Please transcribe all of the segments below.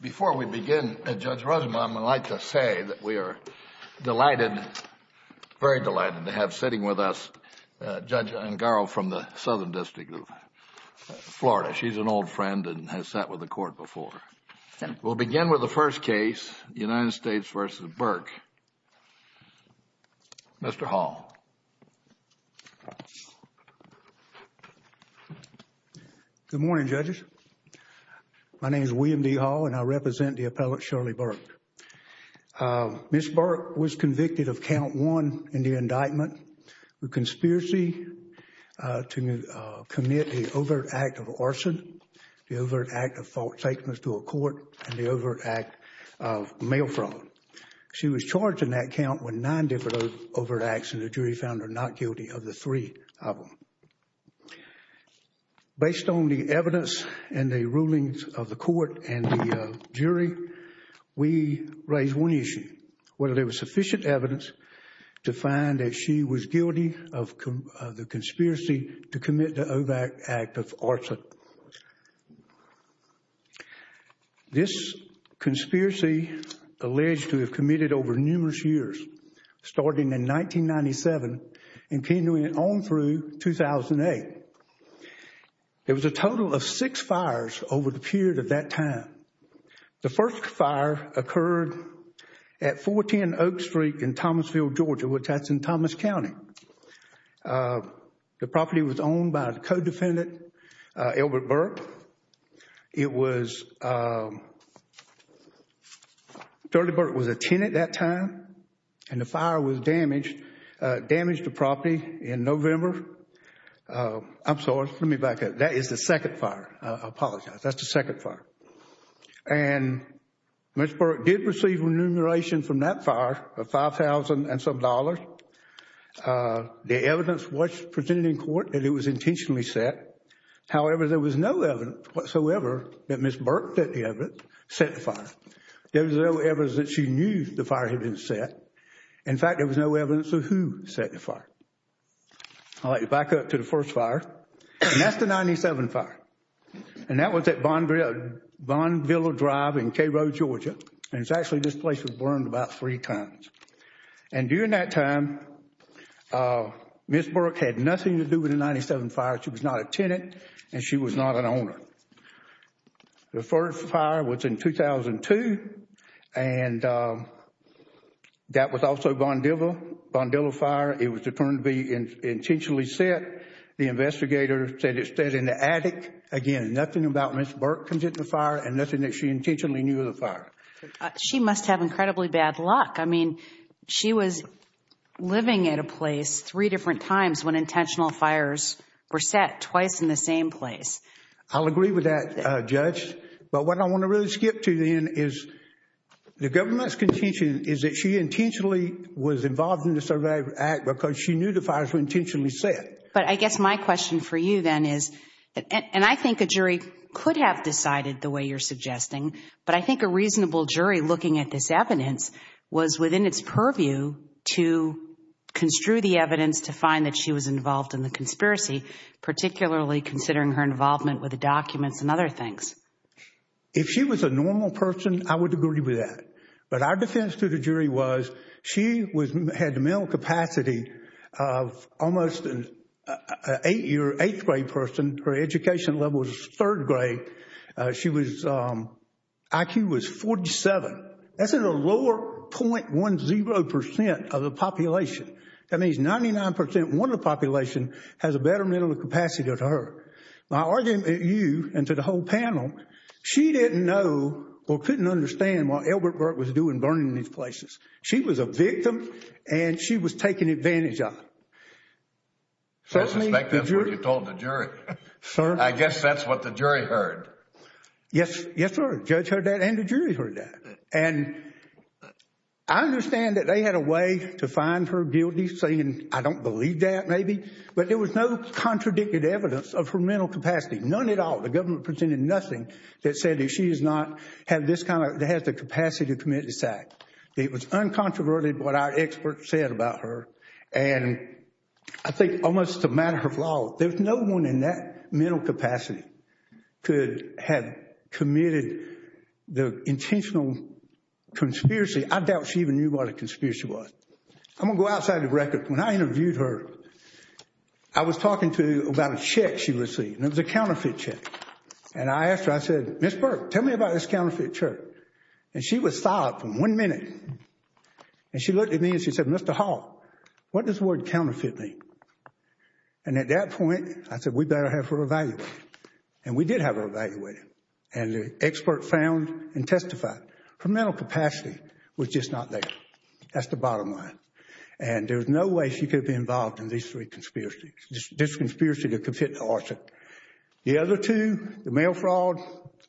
Before we begin, Judge Rudman, I'd like to say that we are delighted, very delighted, to have sitting with us Judge Angaro from the Southern District of Florida. She's an old friend and has sat with the Court before. We'll begin with the first case, United States v. Burk. Mr. Hall. Good morning, Judges. My name is William D. Hall and I represent the appellant Shirley Burk. Ms. Burk was convicted of count one in the indictment, a conspiracy to commit the overt act of arson, the overt act of false statements to a court, and the She was charged in that count with nine different overt acts and the jury found her not guilty of the three of them. Based on the evidence and the rulings of the court and the jury, we raised one issue, whether there was sufficient evidence to find that she was guilty of the years, starting in 1997 and continuing on through 2008. There was a total of six fires over the period of that time. The first fire occurred at 410 Oak Street in Thomasville, Georgia, which that's in Thomas County. The property was owned by the co-defendant, Elbert Burk. It was, Shirley Burk was a tenant at that time and the fire was damaged, damaged the property in November. I'm sorry, let me back up. That is the second fire. I apologize. That's the second fire. And Ms. Burk did receive remuneration from that fire of $5,000 and some dollars. The evidence was presented in court and it was intentionally set. However, there was no evidence whatsoever that Ms. Burk set the evidence, set the fire. There was no evidence that she knew the fire had been set. In fact, there was no evidence of who set the fire. I'll let you back up to the first fire. And that's the 97 fire. And that was at Vaughnville Drive in Cairo, Georgia. And it's actually, this place was burned about three times. And during that time, Ms. Burk had nothing to do with the 97 fire. She was not a tenant and she was not an owner. The first fire was in 2002 and that was also Vaughnville, Vaughnville fire. It was determined to be intentionally set. The investigator said it's set in the attic. Again, nothing about Ms. Burk comes into the fire and nothing that she intentionally knew of the fire. She must have incredibly bad luck. I mean, she was living at a place three different times when intentional fires were set, twice in the same place. I'll agree with that, Judge. But what I want to really skip to then is the government's contention is that she intentionally was involved in the Survivor Act because she knew the fires were intentionally set. But I guess my question for you then is, and I think a jury could have decided the way you're suggesting, but I think a reasonable jury looking at this evidence was within its to find that she was involved in the conspiracy, particularly considering her involvement with the documents and other things. If she was a normal person, I would agree with that. But our defense to the jury was she had the mental capacity of almost an eighth-grade person. Her education level was third grade. She was, IQ was 47. That's at a lower 0.10% of the population. That means 99% of the population has a better mental capacity than her. My argument to you and to the whole panel, she didn't know or couldn't understand what Elbert Burk was doing burning these places. She was a victim and she was taken advantage of. I suspect that's what you told the jury. Sir? I guess that's what the jury heard. Yes, sir. The judge heard that and the jury heard that. I understand that they had a way to find her guilty saying, I don't believe that maybe. But there was no contradicted evidence of her mental capacity. None at all. The government presented nothing that said that she does not have this kind of, that has the capacity to commit this act. It was uncontroverted what our experts said about her. And I think almost a matter of law, there's no one in that mental capacity could have committed the intentional conspiracy. I doubt she even knew what a conspiracy was. I'm going to go outside the record. When I interviewed her, I was talking to her about a check she received and it was a counterfeit check. And I asked her, I said, Ms. Burk, tell me about this counterfeit check. And she was silent for one minute. And she looked at me and she said, Mr. Hall, what does the word counterfeit mean? And at that point, I said, we better have her evaluated. And we did have her evaluated. And the expert found and testified. Her mental capacity was just not there. That's the bottom line. And there's no way she could be involved in these three conspiracies, this conspiracy to commit the arson. The other two, the mail fraud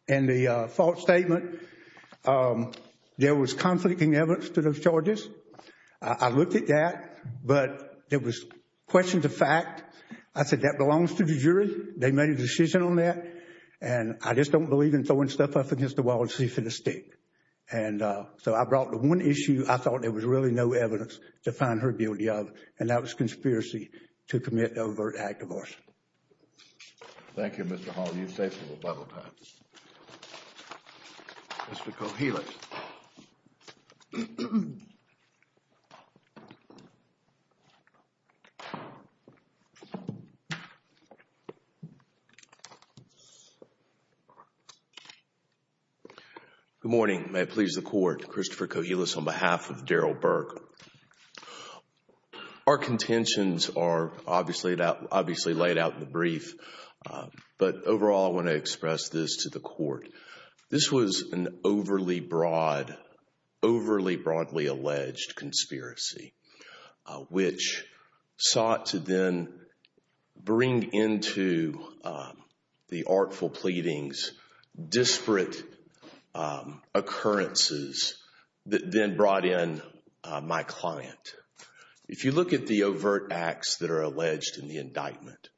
and the false statement, there was conflicting evidence to those charges. I looked at that, but there was question to fact. I said, that belongs to the jury. They made a decision on that. And I just don't believe in throwing stuff up against the wall and see if it'll stick. And so I brought the one issue I thought there was really no evidence to find her guilty of. And that was conspiracy to commit overt act of arson. Thank you, Mr. Hall. You're safe for a little while more time. Mr. Kouhelis. Good morning. May it please the Court. Christopher Kouhelis on behalf of Daryl Burke. Our contentions are obviously laid out in the brief. But overall, I want to express this to the Court. This was an overly broadly alleged conspiracy, which sought to then bring into the artful pleadings disparate occurrences that then brought in my client. If you look at the overt acts that are alleged in the indictment,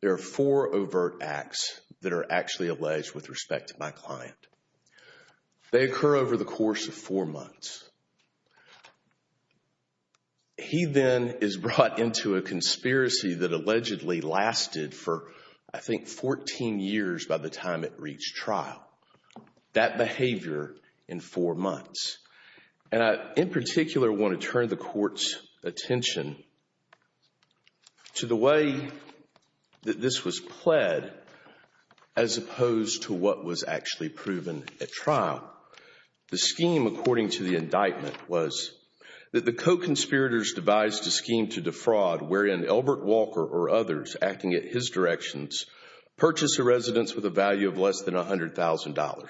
there are four overt acts that are actually alleged with respect to my client. They occur over the course of four months. He then is brought into a conspiracy that allegedly lasted for, I think, 14 years by the time it reached trial. That behavior in four months. And I, in particular, want to turn the Court's attention to the way that this was pled as opposed to what was actually proven at trial. The scheme, according to the indictment, was that the co-conspirators devised a scheme to defraud, wherein Elbert Walker or others acting at his directions purchased a residence with a value of less than $100,000.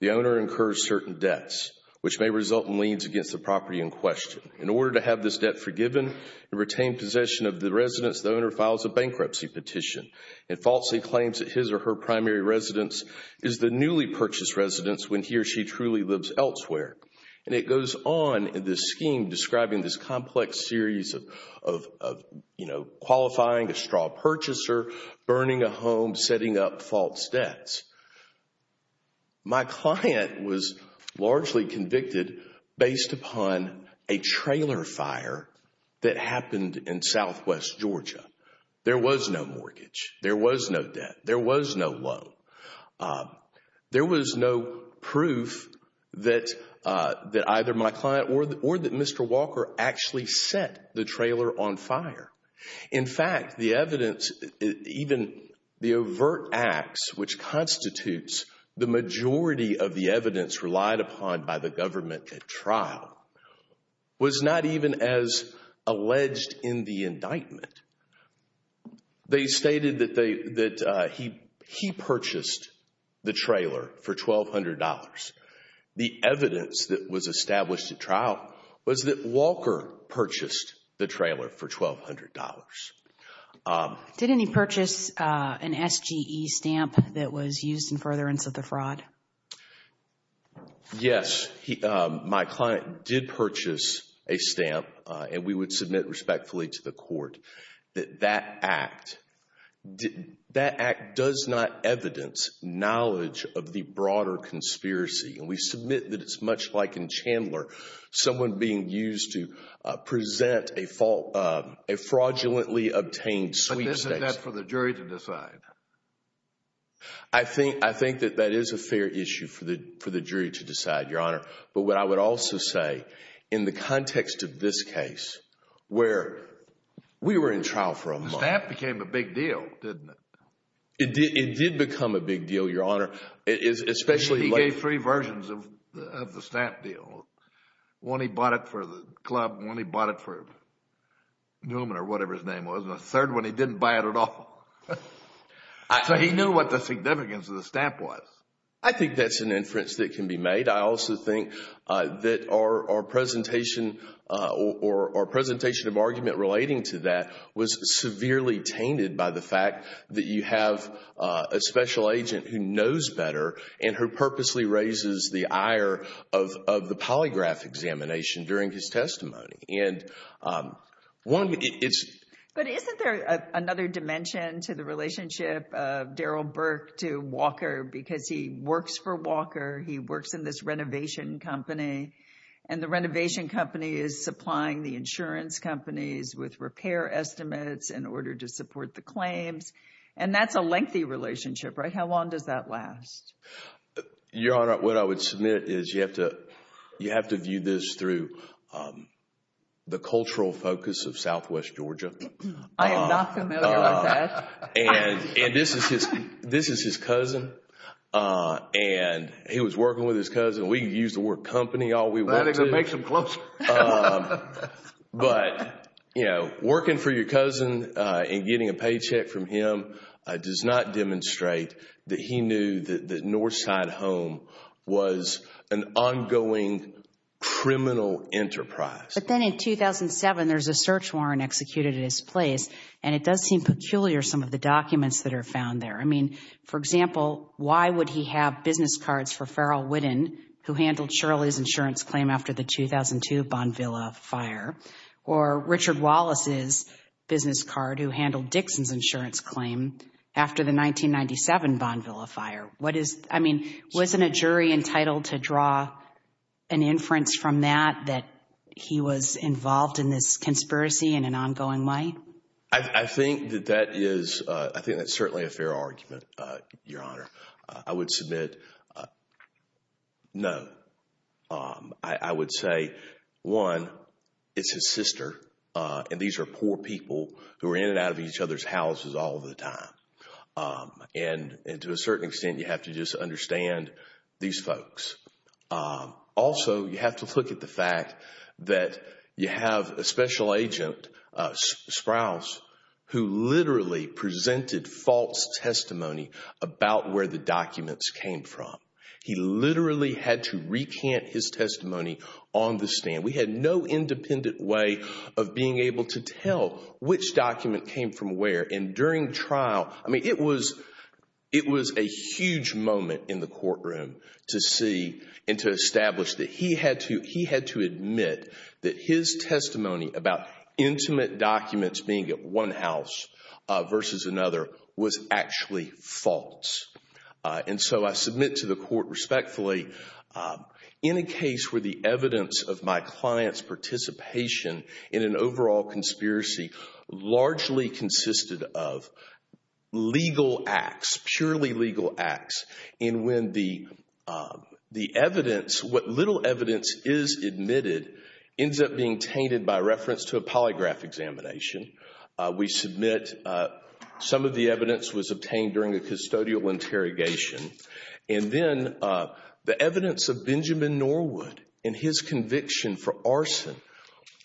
The owner incurs certain debts, which may result in property in question. In order to have this debt forgiven and retain possession of the residence, the owner files a bankruptcy petition and falsely claims that his or her primary residence is the newly purchased residence when he or she truly lives elsewhere. And it goes on in this scheme describing this complex series of qualifying a straw purchaser, burning a home, setting up false debts. My client was largely convicted based upon a trailer fire that happened in southwest Georgia. There was no mortgage. There was no debt. There was no loan. There was no proof that either my client or that Mr. Walker actually set the trailer on fire. In fact, the evidence, even the overt acts, which constitutes the majority of the evidence relied upon by the government at trial, was not even as alleged in the indictment. They stated that he purchased the trailer for $1,200. The evidence that was established at trial was that Walker purchased the trailer for $1,200. Did any purchase an SGE stamp that was used in furtherance of the fraud? Yes. My client did purchase a stamp, and we would submit respectfully to the court that that act does not evidence knowledge of the broader conspiracy. And we submit that it's much like in Chandler, someone being used to present a fraudulently obtained sweepstakes. But isn't that for the jury to decide? I think that that is a fair issue for the jury to decide, Your Honor. But what I would also say, in the context of this case, where we were in trial for a month... The stamp became a big deal, didn't it? It did become a big deal, Your Honor, especially... The stamp deal. One, he bought it for the club. One, he bought it for Newman or whatever his name was. And the third one, he didn't buy it at all. So he knew what the significance of the stamp was. I think that's an inference that can be made. I also think that our presentation of argument relating to that was severely tainted by the fact that you have a special agent who knows better and who purposely raises the ire of the polygraph examination during his testimony. But isn't there another dimension to the relationship of Daryl Burke to Walker? Because he works for Walker. He works in this renovation company. And the renovation company is supplying the insurance companies with repair estimates in order to support the claims. And that's a lengthy relationship, right? How long does that last? Your Honor, what I would submit is you have to view this through the cultural focus of Southwest Georgia. I am not familiar with that. This is his cousin. And he was working with his cousin. We use the word company all we want to. I think that makes them closer. But, you know, working for your cousin and getting a paycheck from him does not demonstrate that he knew that Northside Home was an ongoing criminal enterprise. But then in 2007, there's a search warrant executed at his place. And it does seem peculiar some of the documents that are found there. I mean, for example, why would he have business cards for Farrell Witten, who handled Shirley's insurance claim after the 2002 Bonvilla fire? Or Richard Wallace's business card, who handled Dixon's insurance claim after the 1997 Bonvilla fire? What is, I mean, wasn't a jury entitled to draw an inference from that that he was involved in this conspiracy in an ongoing way? I think that that is certainly a fair argument, Your Honor. I would submit no. I would say, one, it's his sister. And these are poor people who are in and out of each other's houses all the time. And to a certain extent, you have to just understand these folks. Also, you have to look at the fact that you have a special agent, Sprouse, who literally presented false testimony about where the documents came from. He literally had to recant his testimony on the stand. We had no independent way of being able to tell which document came from where. And during trial, I mean, it was a huge moment in the courtroom to see and to establish that he had to admit that his testimony about intimate documents being at one house versus another was actually false. And so I submit to the court respectfully, in a case where the evidence of my client's participation in an overall conspiracy largely consisted of legal acts, purely legal acts. And when the evidence, what little evidence is admitted, ends up being tainted by reference to a polygraph examination. We submit some of the evidence was obtained during a custodial interrogation. And then the evidence of Benjamin Norwood and his conviction for arson, which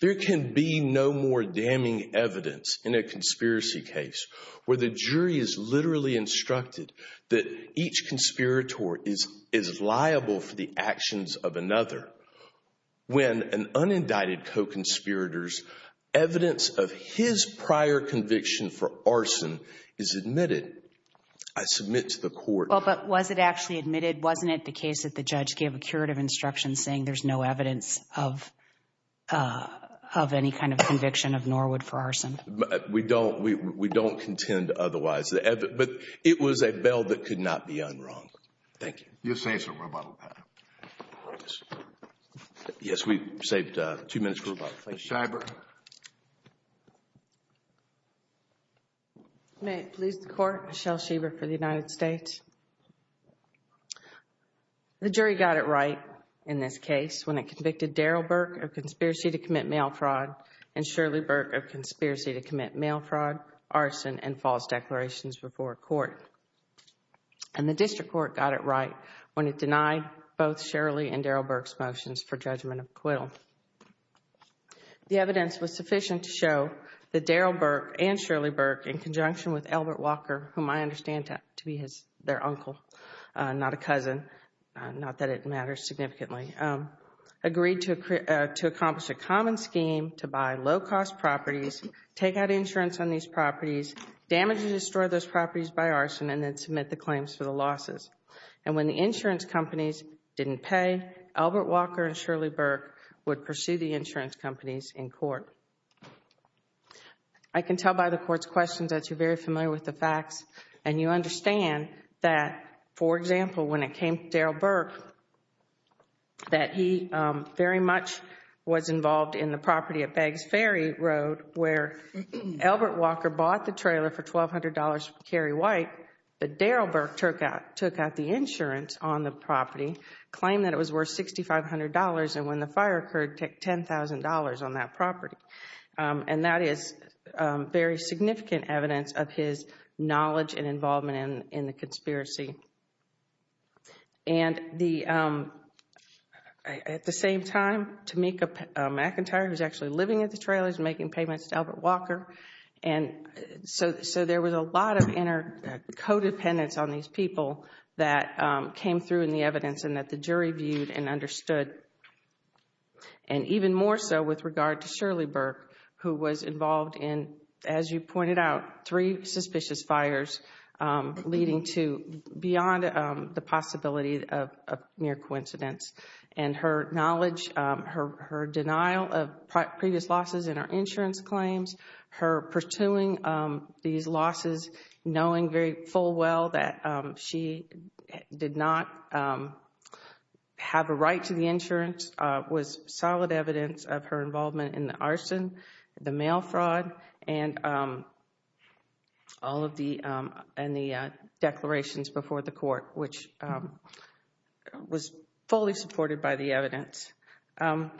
there can be no more damning evidence in a conspiracy case where the jury is literally instructed that each conspirator is liable for the actions of another. When an unindicted co-conspirator's evidence of his prior conviction for arson is admitted, I submit to the court. Well, but was it actually admitted? Wasn't it the case that the judge gave a curative instruction saying there's no evidence of any kind of conviction of Norwood for arson? We don't contend otherwise. But it was a bail that could not be unwronged. Thank you. Yes, we've saved two minutes for rebuttal. Ms. Schreiber. May it please the court, Michelle Schreiber for the United States. The jury got it right. In this case, when it convicted Daryl Burke of conspiracy to commit mail fraud and Shirley Burke of conspiracy to commit mail fraud, arson and false declarations before court. And the district court got it right when it denied both Shirley and Daryl Burke's motions for judgment of acquittal. The evidence was sufficient to show that Daryl Burke and Shirley Burke in conjunction with Albert Walker, whom I understand to be their uncle, not a cousin, not that it matters significantly, agreed to accomplish a common scheme to buy low-cost properties, take out insurance on these properties, damage and destroy those properties by arson and then submit the claims for the losses. And when the insurance companies didn't pay, Albert Walker and Shirley Burke would pursue the insurance companies in court. I can tell by the court's questions that you're very familiar with the facts and you understand that, for example, when it came to Daryl Burke, that he very much was involved in the property at Beggs Ferry Road where Albert Walker bought the trailer for $1,200 from Cary White, but Daryl Burke took out the insurance on the property, claimed that it was worth $6,500 and when the fire occurred, took $10,000 on that property. And that is very significant evidence of his knowledge and involvement in the conspiracy. And at the same time, Tamika McIntyre, who's actually living at the trailers, making payments to Albert Walker. And so there was a lot of inter- co-dependence on these people that came through in the evidence and that the jury viewed and understood. And even more so with regard to Shirley Burke who was involved in, as you pointed out, three suspicious fires leading to beyond the possibility of mere coincidence. And her knowledge, her denial of previous losses in her insurance claims, her pursuing these losses, knowing very full well that she did not have a right to the insurance was solid evidence of her involvement in the arson, the mail fraud, and all of the declarations before the court, which was fully supported by the evidence. I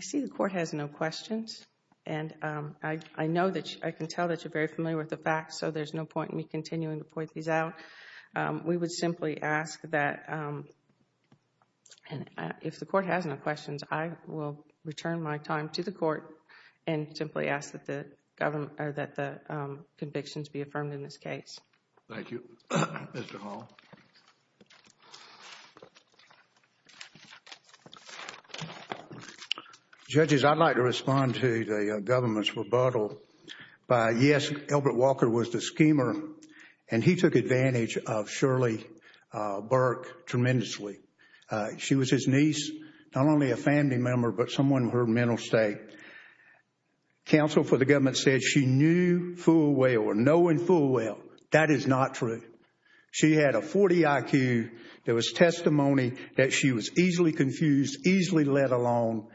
see the court has no questions. And I know that, I can tell that you're very familiar with the facts, so there's no point in me continuing to point these out. We would simply ask that, if the court has no questions, I will return my time to the court and simply ask that the convictions be affirmed in this case. Thank you. Mr. Hall. Judges, I'd like to respond to the government's rebuttal by, yes, Albert Walker was the father of Shirley Burke tremendously. She was his niece, not only a family member, but someone of her mental state. Counsel for the government said she knew full well, or knowing full well, that is not true. She had a 40 IQ. There was testimony that she was easily confused, easily led along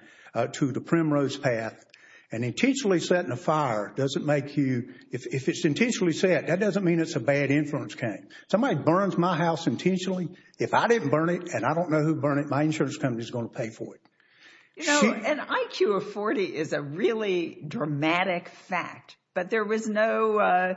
to the Primrose Path. And intentionally setting a fire doesn't make you, if it's intentionally set, that doesn't mean it's a bad influence came. Somebody burns my house intentionally, if I didn't burn it and I don't know who burned it, my insurance company is going to pay for it. You know, an IQ of 40 is a really dramatic fact, but there was no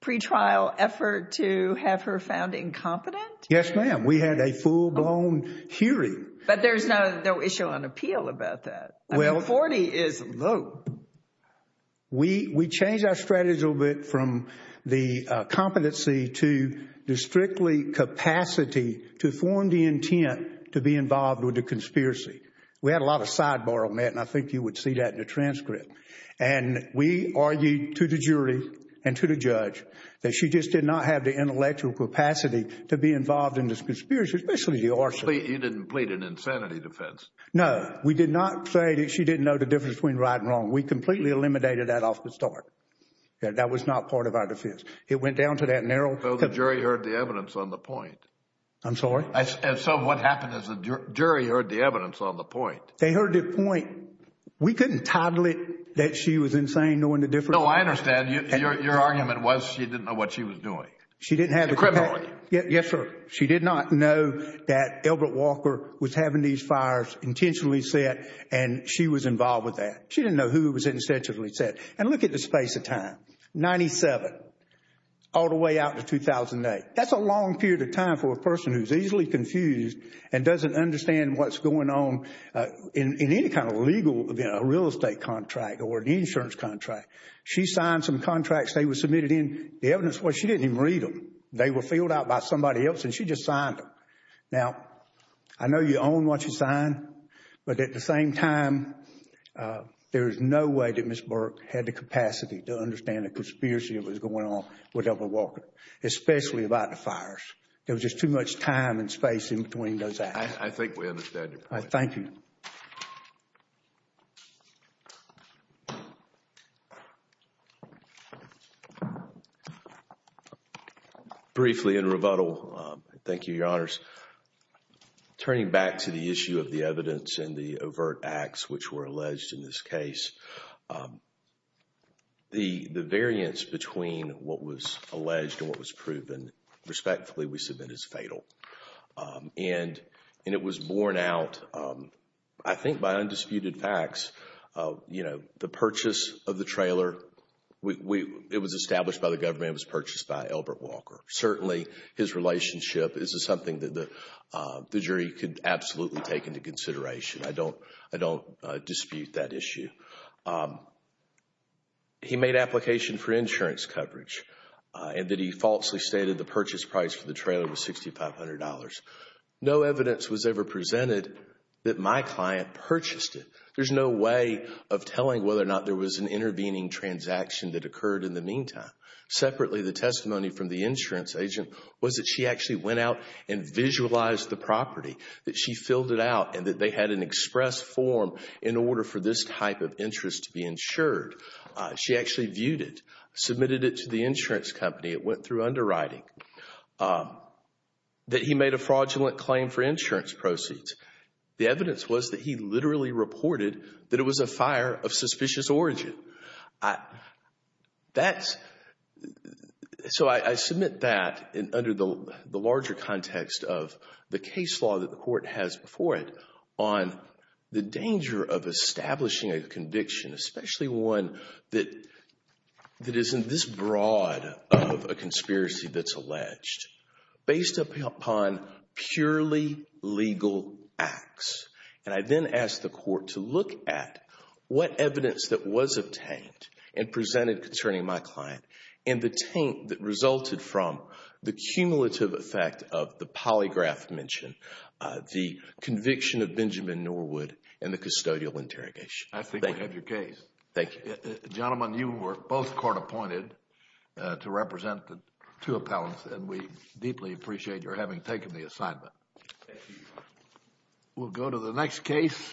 pretrial effort to have her found incompetent? Yes, ma'am. We had a full-blown hearing. But there's no issue on appeal about that. I mean, 40 is low. We changed our strategy a little bit from the competency to the strictly capacity to form the intent to be involved with the conspiracy. We had a lot of sidebar on that, and I think you would see that in the transcript. And we argued to the jury and to the judge that she just did not have the intellectual capacity to be involved in this conspiracy, especially the arson. You didn't plead an insanity defense? No, we did not say that she didn't know the difference between right and wrong. We completely eliminated that off the start. That was not part of our defense. It went down to that narrow... So the jury heard the evidence on the point? I'm sorry? So what happened is the jury heard the evidence on the point? They heard the point. We couldn't title it that she was insane knowing the difference. No, I understand. Your argument was she didn't know what she was doing. She didn't have... She's a criminal. Yes, sir. She did not know that Elbert Walker was having these fires intentionally set, and she was involved with that. She didn't know who it was intentionally set. And look at the space of time, 97 all the way out to 2008. That's a long period of time for a person who's easily confused and doesn't understand what's going on in any kind of legal... a real estate contract or an insurance contract. She signed some contracts. They were submitted in. The evidence was she didn't even read them. They were filled out by somebody else, and she just signed them. Now, I know you own what you signed, but at the same time, there is no way that Ms. Burke had the capacity to understand the conspiracy that was going on with Elbert Walker, especially about the fires. There was just too much time and space in between those acts. I think we understand your point. Thank you. Briefly, in rebuttal, thank you, Your Honors. Turning back to the issue of the evidence and the overt acts which were alleged in this case, the variance between what was alleged and what was proven, respectfully, we submit as fatal. And it was borne out, I think, by undisputed facts. The purchase of the trailer, it was established by the government. It was purchased by Elbert Walker. Certainly, his relationship is something that the jury could absolutely take into consideration. I don't dispute that issue. He made application for insurance coverage and that he falsely stated the purchase price for the trailer was $6,500. No evidence was ever presented that my client purchased it. There's no way of telling whether or not there was an intervening transaction that occurred in the meantime. Separately, the testimony from the insurance agent was that she actually went out and visualized the property, that she filled it out, and that they had an express form in order for this type of interest to be insured. She actually viewed it, submitted it to the insurance company. It went through underwriting. That he made a fraudulent claim for insurance proceeds. The evidence was that he literally reported that it was a fire of suspicious origin. So I submit that under the larger context of the case law that the court has before it on the danger of establishing a conviction, especially one that isn't this broad of a conspiracy that's alleged, based upon purely legal acts. And I then ask the court to look at what evidence that was obtained and presented concerning my client and the taint that resulted from the cumulative effect of the polygraph mentioned, the conviction of Benjamin Norwood and the custodial interrogation. I think we have your case. Thank you. Gentlemen, you were both court appointed to represent the two appellants and we deeply appreciate your having taken the assignment. We'll go to the next case.